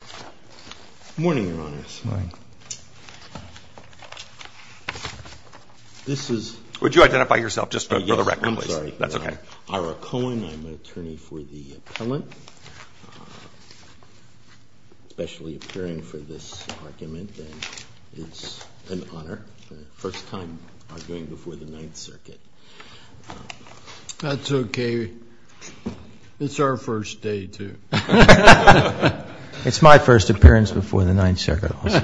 Good morning, Your Honors. Good morning. This is... Would you identify yourself just for the record, please? I'm sorry. That's okay. Ira Cohen. I'm an attorney for the appellant, especially appearing for this argument. It's an honor. First time arguing before the Ninth Circuit. That's okay. It's our first day, too. It's my first appearance before the Ninth Circuit also.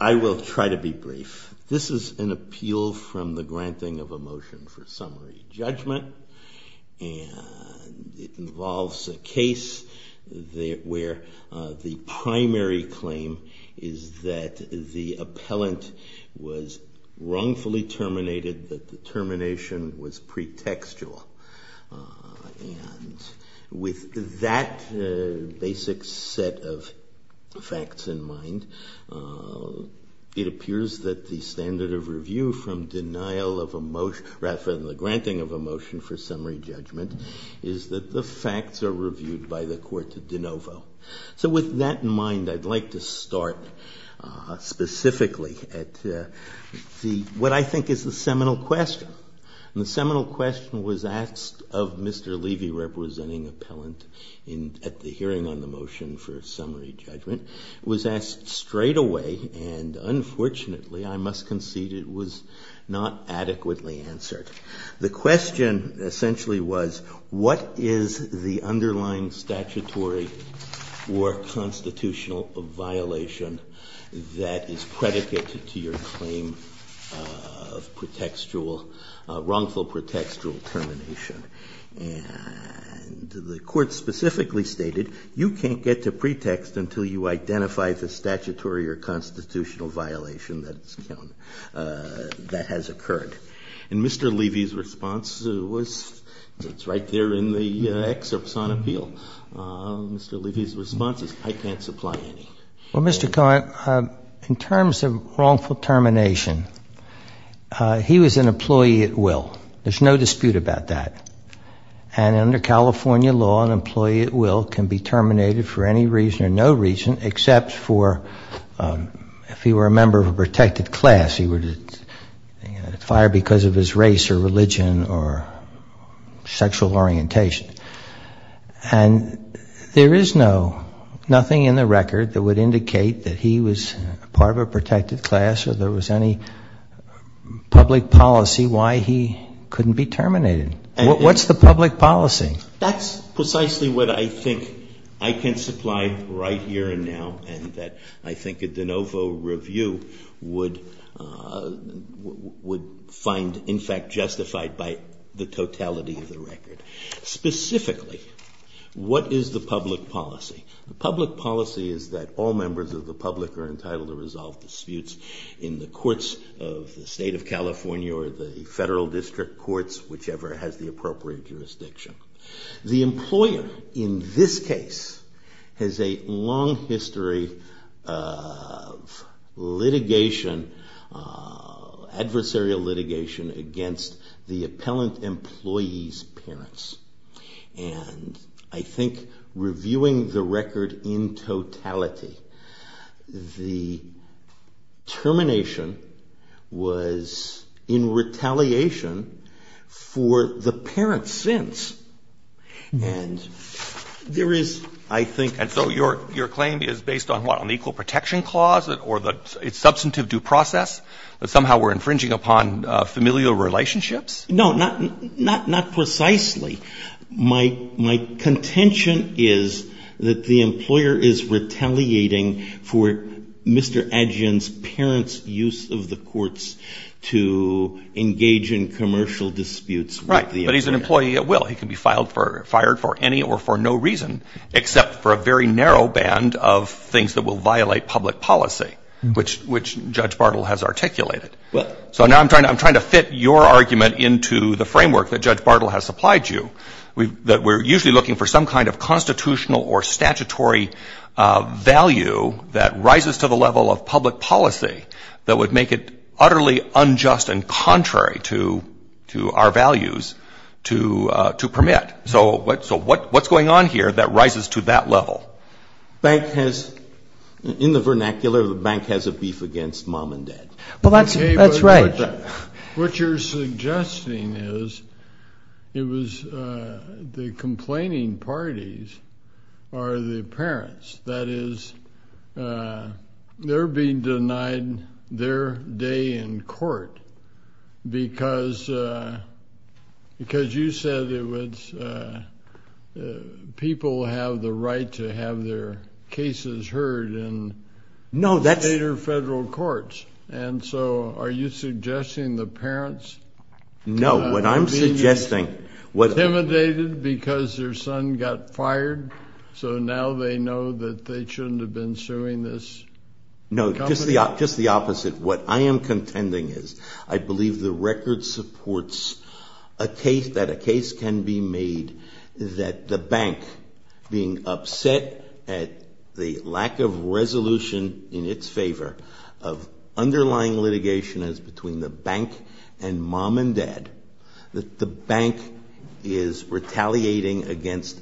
I will try to be brief. This is an appeal from the granting of a motion for summary judgment, and it involves a case where the primary claim is that the appellant was wrongfully terminated, but the termination was pretextual. And with that basic set of facts in mind, it appears that the standard of review from denial of a motion, rather than the granting of a motion for summary judgment, is that the facts are reviewed by the court de novo. So with that in mind, I'd like to start specifically at what I think is the seminal question. The seminal question was asked of Mr. Levy, representing appellant, at the hearing on the motion for summary judgment. It was asked straight away, and unfortunately, I must concede it was not adequately answered. The question essentially was, what is the underlying statutory or constitutional violation that is predicated to your claim of wrongful pretextual termination? And the court specifically stated, you can't get to pretext until you identify the statutory or constitutional violation that has occurred. And Mr. Levy's response was, it's right there in the excerpts on appeal. Mr. Levy's response is, I can't supply any. Well, Mr. Cohen, in terms of wrongful termination, he was an employee at will. There's no dispute about that. And under California law, an employee at will can be terminated for any reason or no reason, except for if he were a member of a protected class, he would be fired because of his race or religion or sexual orientation. And there is nothing in the record that would indicate that he was part of a protected class or there was any public policy why he couldn't be terminated. What's the public policy? That's precisely what I think I can supply right here and now and that I think a de novo review would find, in fact, justified by the totality of the record. Specifically, what is the public policy? The public policy is that all members of the public are entitled to resolve disputes in the courts of the state of California or the federal district courts, whichever has the appropriate jurisdiction. The employer, in this case, has a long history of litigation, adversarial litigation against the appellant employee's parents. And I think reviewing the record in totality, the termination was in retaliation for the parent's sins. And there is, I think, and so your claim is based on what? On the physical protection clause or the substantive due process that somehow we're infringing upon familial relationships? No, not precisely. My contention is that the employer is retaliating for Mr. Adjian's parents' use of the courts to engage in commercial disputes with the employer. Right, but he's an employee at will. He can be fired for any or for no reason except for a very narrow band of things that will violate public policy, which Judge Bartle has articulated. So now I'm trying to fit your argument into the framework that Judge Bartle has supplied you, that we're usually looking for some kind of constitutional or statutory value that rises to the level of public policy that would make it utterly unjust and contrary to our values to permit. So what's going on here that rises to that level? Bank has, in the vernacular, the bank has a beef against mom and dad. Well, that's right. What you're suggesting is it was the complaining parties are the parents. That is, they're being denied their day in court because you said people have the right to have their cases heard in state or federal courts. And so are you suggesting the parents are being intimidated because their son got fired, so now they know that they shouldn't have been suing this company? No, just the opposite. What I am contending is I believe the record supports a case, that a case can be made that the bank, being upset at the lack of resolution in its favor of underlying litigation as between the bank and mom and dad, that the bank is retaliating against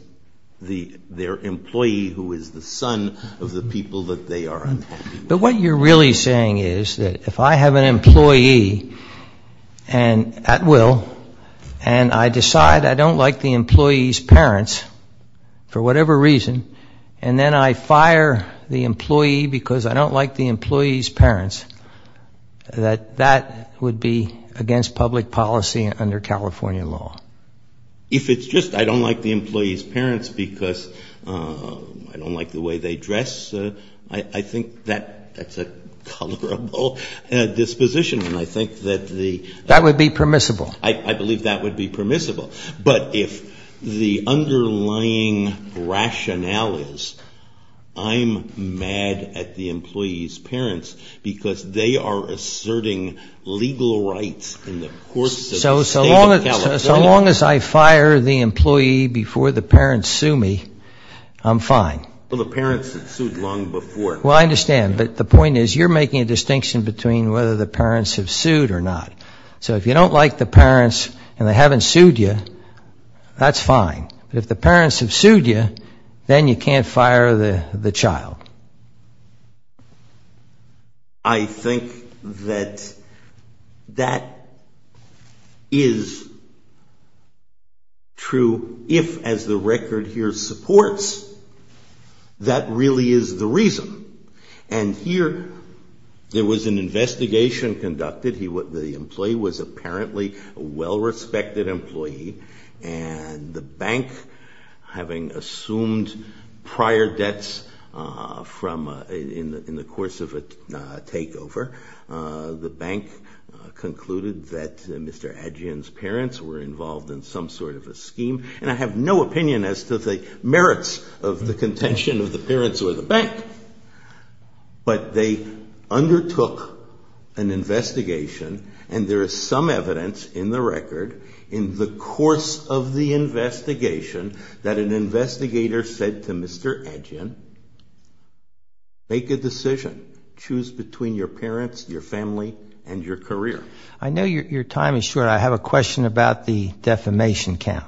their employee, who is the son of the people that they are attacking. But what you're really saying is that if I have an employee at will and I decide I don't like the employee's parents for whatever reason and then I fire the employee because I don't like the employee's parents, that that would be against public policy under California law. If it's just I don't like the employee's parents because I don't like the way they dress, I think that's a colorable disposition. That would be permissible. I believe that would be permissible. But if the underlying rationale is I'm mad at the employee's parents because they are asserting legal rights in the courts of the state of California. So long as I fire the employee before the parents sue me, I'm fine. Well, the parents have sued long before. Well, I understand. But the point is you're making a distinction between whether the parents have sued or not. So if you don't like the parents and they haven't sued you, that's fine. But if the parents have sued you, then you can't fire the child. I think that that is true if, as the record here supports, that really is the reason. And here there was an investigation conducted. The employee was apparently a well-respected employee and the bank, having assumed prior debts in the course of a takeover, the bank concluded that Mr. Adjian's parents were involved in some sort of a scheme. And I have no opinion as to the merits of the contention of the parents or the bank. But they undertook an investigation, and there is some evidence in the record in the course of the investigation that an investigator said to Mr. Adjian, make a decision, choose between your parents, your family, and your career. I know your time is short. I have a question about the defamation count.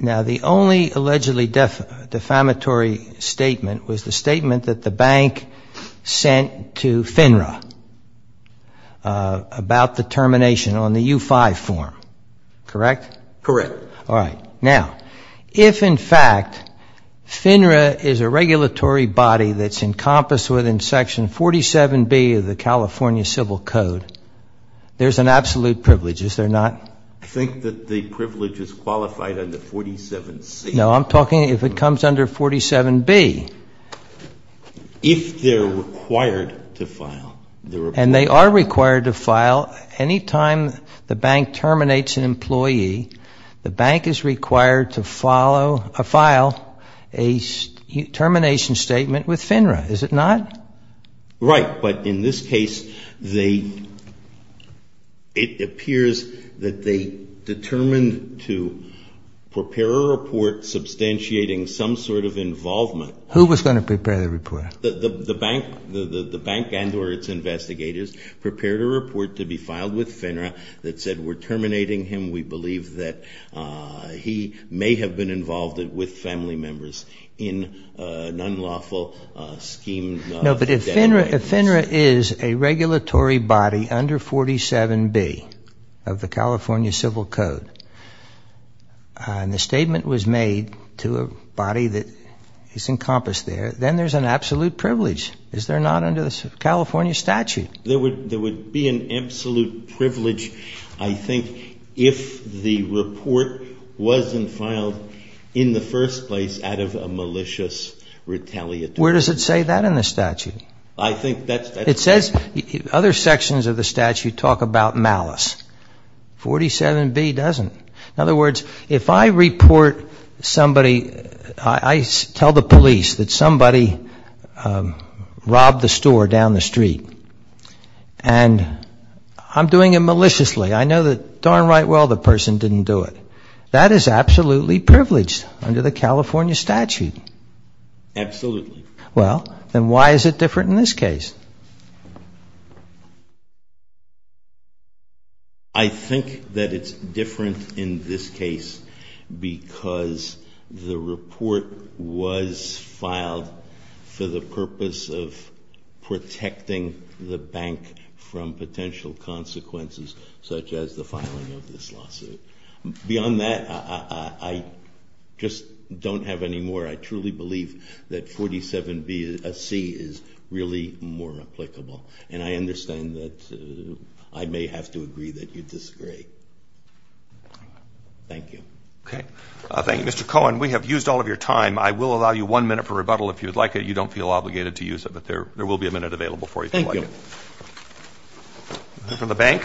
Now, the only allegedly defamatory statement was the statement that the bank sent to FINRA about the termination on the U-5 form. Correct? Correct. All right. Now, if in fact FINRA is a regulatory body that's encompassed within Section 47B of the California Civil Code, there's an absolute privilege, is there not? I think that the privilege is qualified under 47C. No, I'm talking if it comes under 47B. If they're required to file. And they are required to file. Any time the bank terminates an employee, the bank is required to file a termination statement with FINRA, is it not? Right. But in this case, it appears that they determined to prepare a report substantiating some sort of involvement. Who was going to prepare the report? The bank and or its investigators prepared a report to be filed with FINRA that said we're terminating him. We believe that he may have been involved with family members in an unlawful scheme. No, but if FINRA is a regulatory body under 47B of the California Civil Code and the statement was made to a body that is encompassed there, then there's an absolute privilege, is there not, under the California statute? There would be an absolute privilege, I think, if the report wasn't filed in the first place out of a malicious retaliatory. Where does it say that in the statute? It says other sections of the statute talk about malice. 47B doesn't. In other words, if I report somebody, I tell the police that somebody robbed the store down the street and I'm doing it maliciously, I know that darn right well the person didn't do it. That is absolutely privileged under the California statute. Absolutely. Well, then why is it different in this case? I think that it's different in this case because the report was filed for the purpose of protecting the bank from potential consequences such as the filing of this lawsuit. Beyond that, I just don't have any more. I truly believe that 47C is really more applicable and I understand that I may have to agree that you disagree. Thank you. Okay. Thank you, Mr. Cohen. We have used all of your time. I will allow you one minute for rebuttal if you would like it. You don't feel obligated to use it, but there will be a minute available for you. Thank you. Thank you. Another from the bank.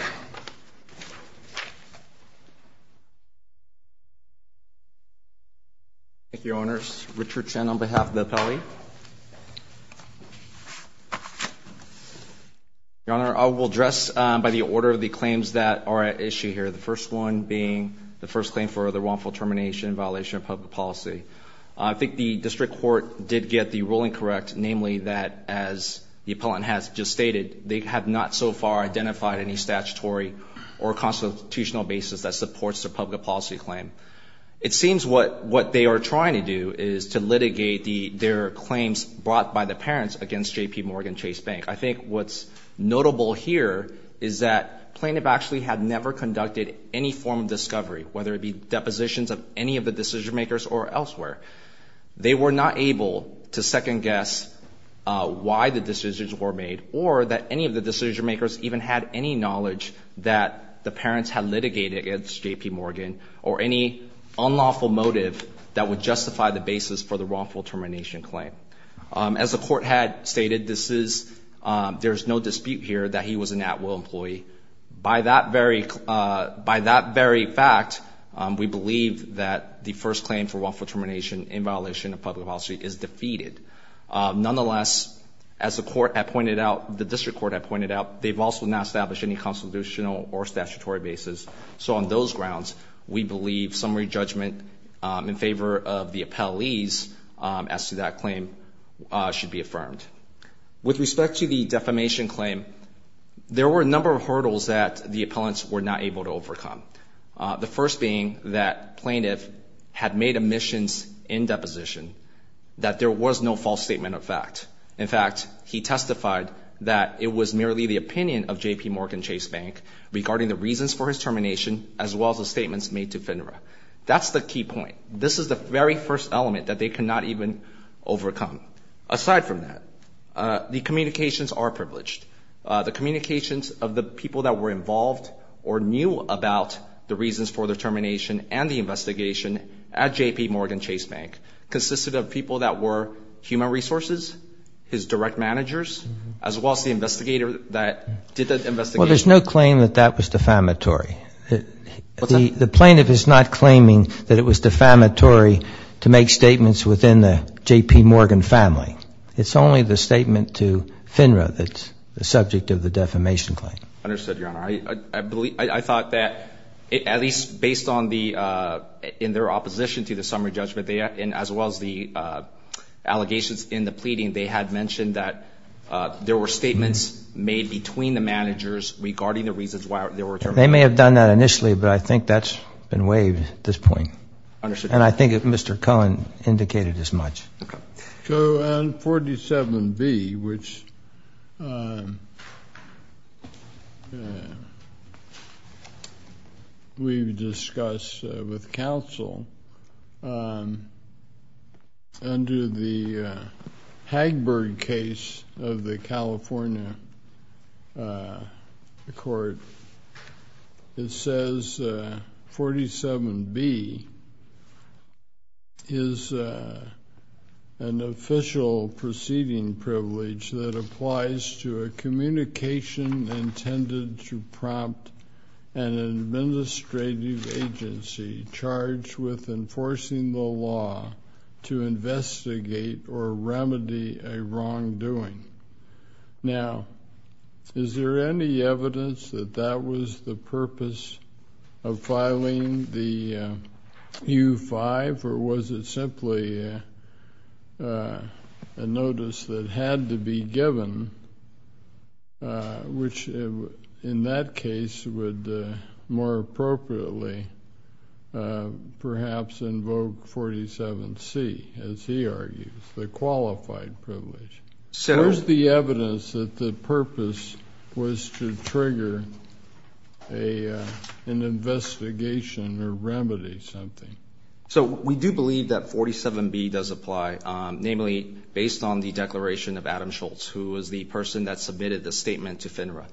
Thank you, Your Honors. Richard Chen on behalf of the appellee. Your Honor, I will address by the order the claims that are at issue here, the first one being the first claim for the wrongful termination in violation of public policy. I think the district court did get the ruling correct, namely that as the appellant has just stated, they have not so far identified any statutory or constitutional basis that supports the public policy claim. It seems what they are trying to do is to litigate their claims brought by the parents against J.P. Morgan Chase Bank. I think what's notable here is that plaintiff actually had never conducted any form of discovery, whether it be depositions of any of the decision-makers or elsewhere. They were not able to second-guess why the decisions were made or that any of the decision-makers even had any knowledge that the parents had litigated against J.P. Morgan or any unlawful motive that would justify the basis for the wrongful termination claim. As the court had stated, there is no dispute here that he was an at-will employee. By that very fact, we believe that the first claim for wrongful termination in violation of public policy is defeated. Nonetheless, as the court had pointed out, the district court had pointed out, they've also not established any constitutional or statutory basis. So on those grounds, we believe summary judgment in favor of the appellees as to that claim should be affirmed. With respect to the defamation claim, there were a number of hurdles that the appellants were not able to overcome, the first being that plaintiff had made omissions in deposition that there was no false statement of fact. In fact, he testified that it was merely the opinion of J.P. Morgan Chase Bank regarding the reasons for his termination as well as the statements made to FINRA. That's the key point. This is the very first element that they could not even overcome. Aside from that, the communications are privileged. The communications of the people that were involved or knew about the reasons for the termination and the investigation at J.P. Morgan Chase Bank consisted of people that were human resources, his direct managers, as well as the investigator that did the investigation. Well, there's no claim that that was defamatory. What's that? The plaintiff is not claiming that it was defamatory to make statements within the J.P. Morgan family. It's only the statement to FINRA that's the subject of the defamation claim. Understood, Your Honor. I thought that, at least based on the, in their opposition to the summary judgment, as well as the allegations in the pleading, they had mentioned that there were statements made between the managers regarding the reasons why they were terminated. They may have done that initially, but I think that's been waived at this point. Understood. And I think that Mr. Cohen indicated as much. So on 47B, which we've discussed with counsel, under the Hagberg case of the California court, it says 47B is an official proceeding privilege that applies to a communication intended to prompt an administrative agency charged with enforcing the law to investigate or remedy a wrongdoing. Now, is there any evidence that that was the purpose of filing the U-5, or was it simply a notice that had to be given, which in that case would more appropriately perhaps invoke 47C, as he argues, the qualified privilege? Where's the evidence that the purpose was to trigger an investigation or remedy something? So we do believe that 47B does apply, namely based on the declaration of Adam Schultz, who was the person that submitted the statement to FINRA.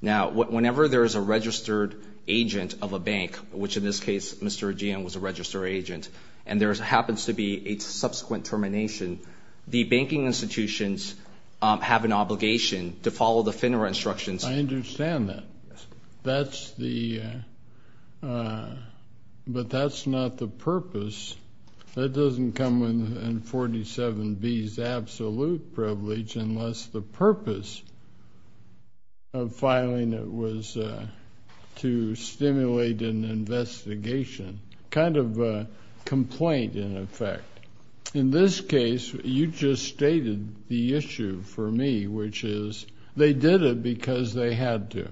Now, whenever there is a registered agent of a bank, which in this case Mr. Ajean was a registered agent, and there happens to be a subsequent termination, the banking institutions have an obligation to follow the FINRA instructions. I understand that. But that's not the purpose. That doesn't come in 47B's absolute privilege unless the purpose of filing it was to stimulate an investigation. Kind of a complaint, in effect. In this case, you just stated the issue for me, which is they did it because they had to.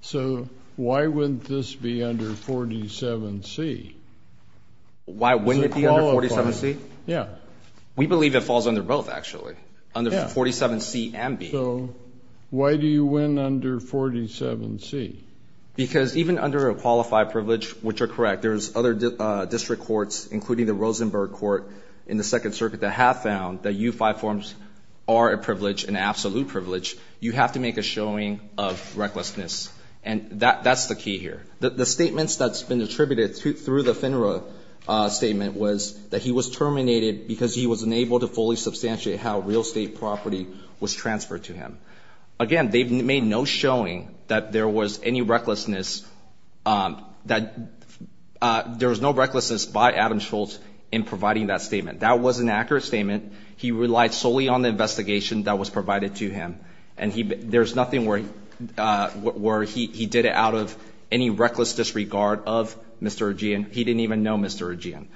So why wouldn't this be under 47C? Why wouldn't it be under 47C? Yeah. We believe it falls under both, actually, under 47C and B. So why do you win under 47C? Because even under a qualified privilege, which are correct, there's other district courts, including the Rosenberg Court in the Second Circuit, that have found that U5 forms are a privilege, an absolute privilege. You have to make a showing of recklessness, and that's the key here. The statements that's been attributed through the FINRA statement was that he was terminated because he was unable to fully substantiate how real estate property was transferred to him. Again, they've made no showing that there was any recklessness by Adam Schultz in providing that statement. That was an accurate statement. He relied solely on the investigation that was provided to him, and there's nothing where he did it out of any reckless disregard of Mr. Ajean. He didn't even know Mr. Ajean.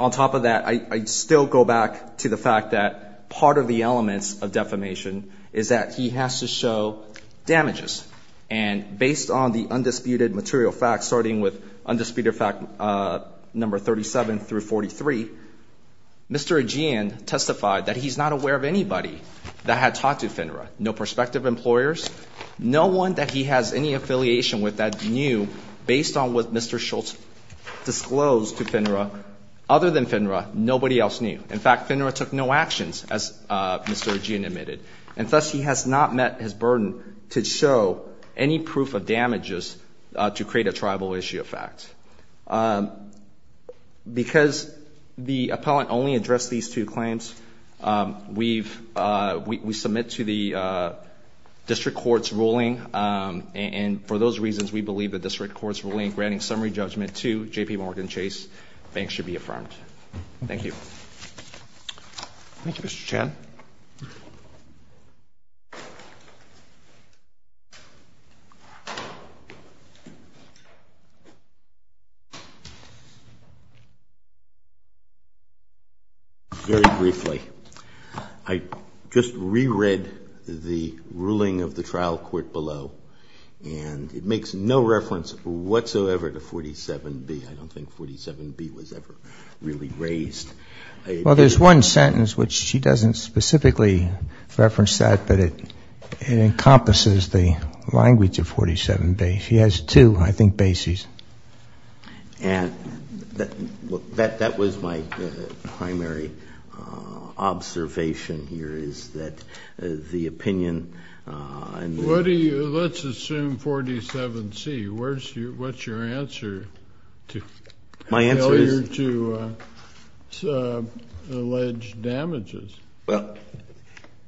On top of that, I still go back to the fact that part of the elements of defamation is that he has to show damages. And based on the undisputed material facts, starting with undisputed fact number 37 through 43, Mr. Ajean testified that he's not aware of anybody that had talked to FINRA, no prospective employers, no one that he has any affiliation with that knew, based on what Mr. Schultz disclosed to FINRA, other than FINRA, nobody else knew. In fact, FINRA took no actions, as Mr. Ajean admitted, and thus he has not met his burden to show any proof of damages to create a tribal issue of fact. Because the appellant only addressed these two claims, we submit to the district court's ruling. And for those reasons, we believe the district court's ruling granting summary judgment to JPMorgan Chase Bank should be affirmed. Thank you. Thank you, Mr. Chan. Very briefly, I just reread the ruling of the trial court below, and it makes no reference whatsoever to 47B. I don't think 47B was ever really raised. Well, there's one sentence which she doesn't specifically reference that, but it encompasses the language of 47B. She has two, I think, bases. And that was my primary observation here, is that the opinion. Let's assume 47C. What's your answer to failure to allege damages? Well,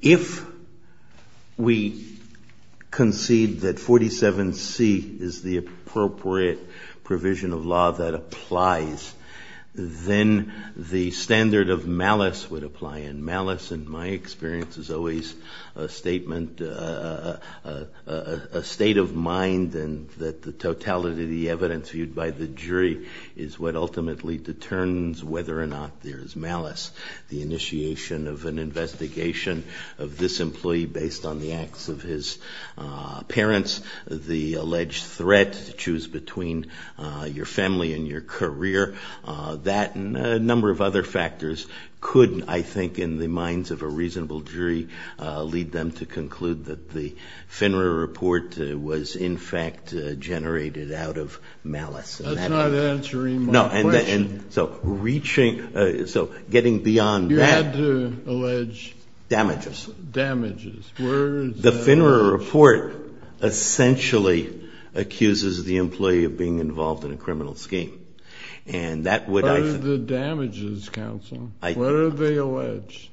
if we concede that 47C is the appropriate provision of law that applies, then the standard of malice would apply. And malice, in my experience, is always a statement, a state of mind, and that the totality of the evidence viewed by the jury is what ultimately determines whether or not there is malice. The initiation of an investigation of this employee based on the acts of his parents, the alleged threat to choose between your family and your career, that and a number of other factors could, I think, in the minds of a reasonable jury, lead them to conclude that the FINRA report was, in fact, generated out of malice. That's not answering my question. So getting beyond that. You had to allege damages. The FINRA report essentially accuses the employee of being involved in a criminal scheme. What are the damages, counsel? What are they alleged?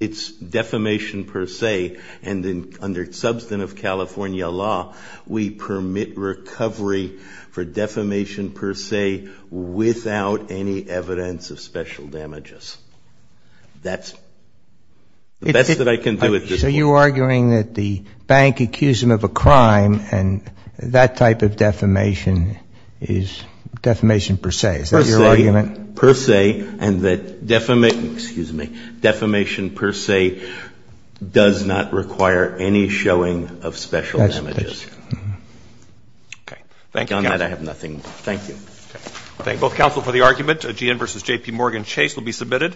It's defamation per se, and under substantive California law, we permit recovery for defamation per se without any evidence of special damages. That's the best that I can do at this point. So you're arguing that the bank accused him of a crime, and that type of defamation is defamation per se. Is that your argument? Per se, and that defamation per se does not require any showing of special damages. Okay. Thank you, counsel. Beyond that, I have nothing. Thank you. Okay. Thank both counsel for the argument. G.N. v. J.P. Morgan. Chase will be submitted.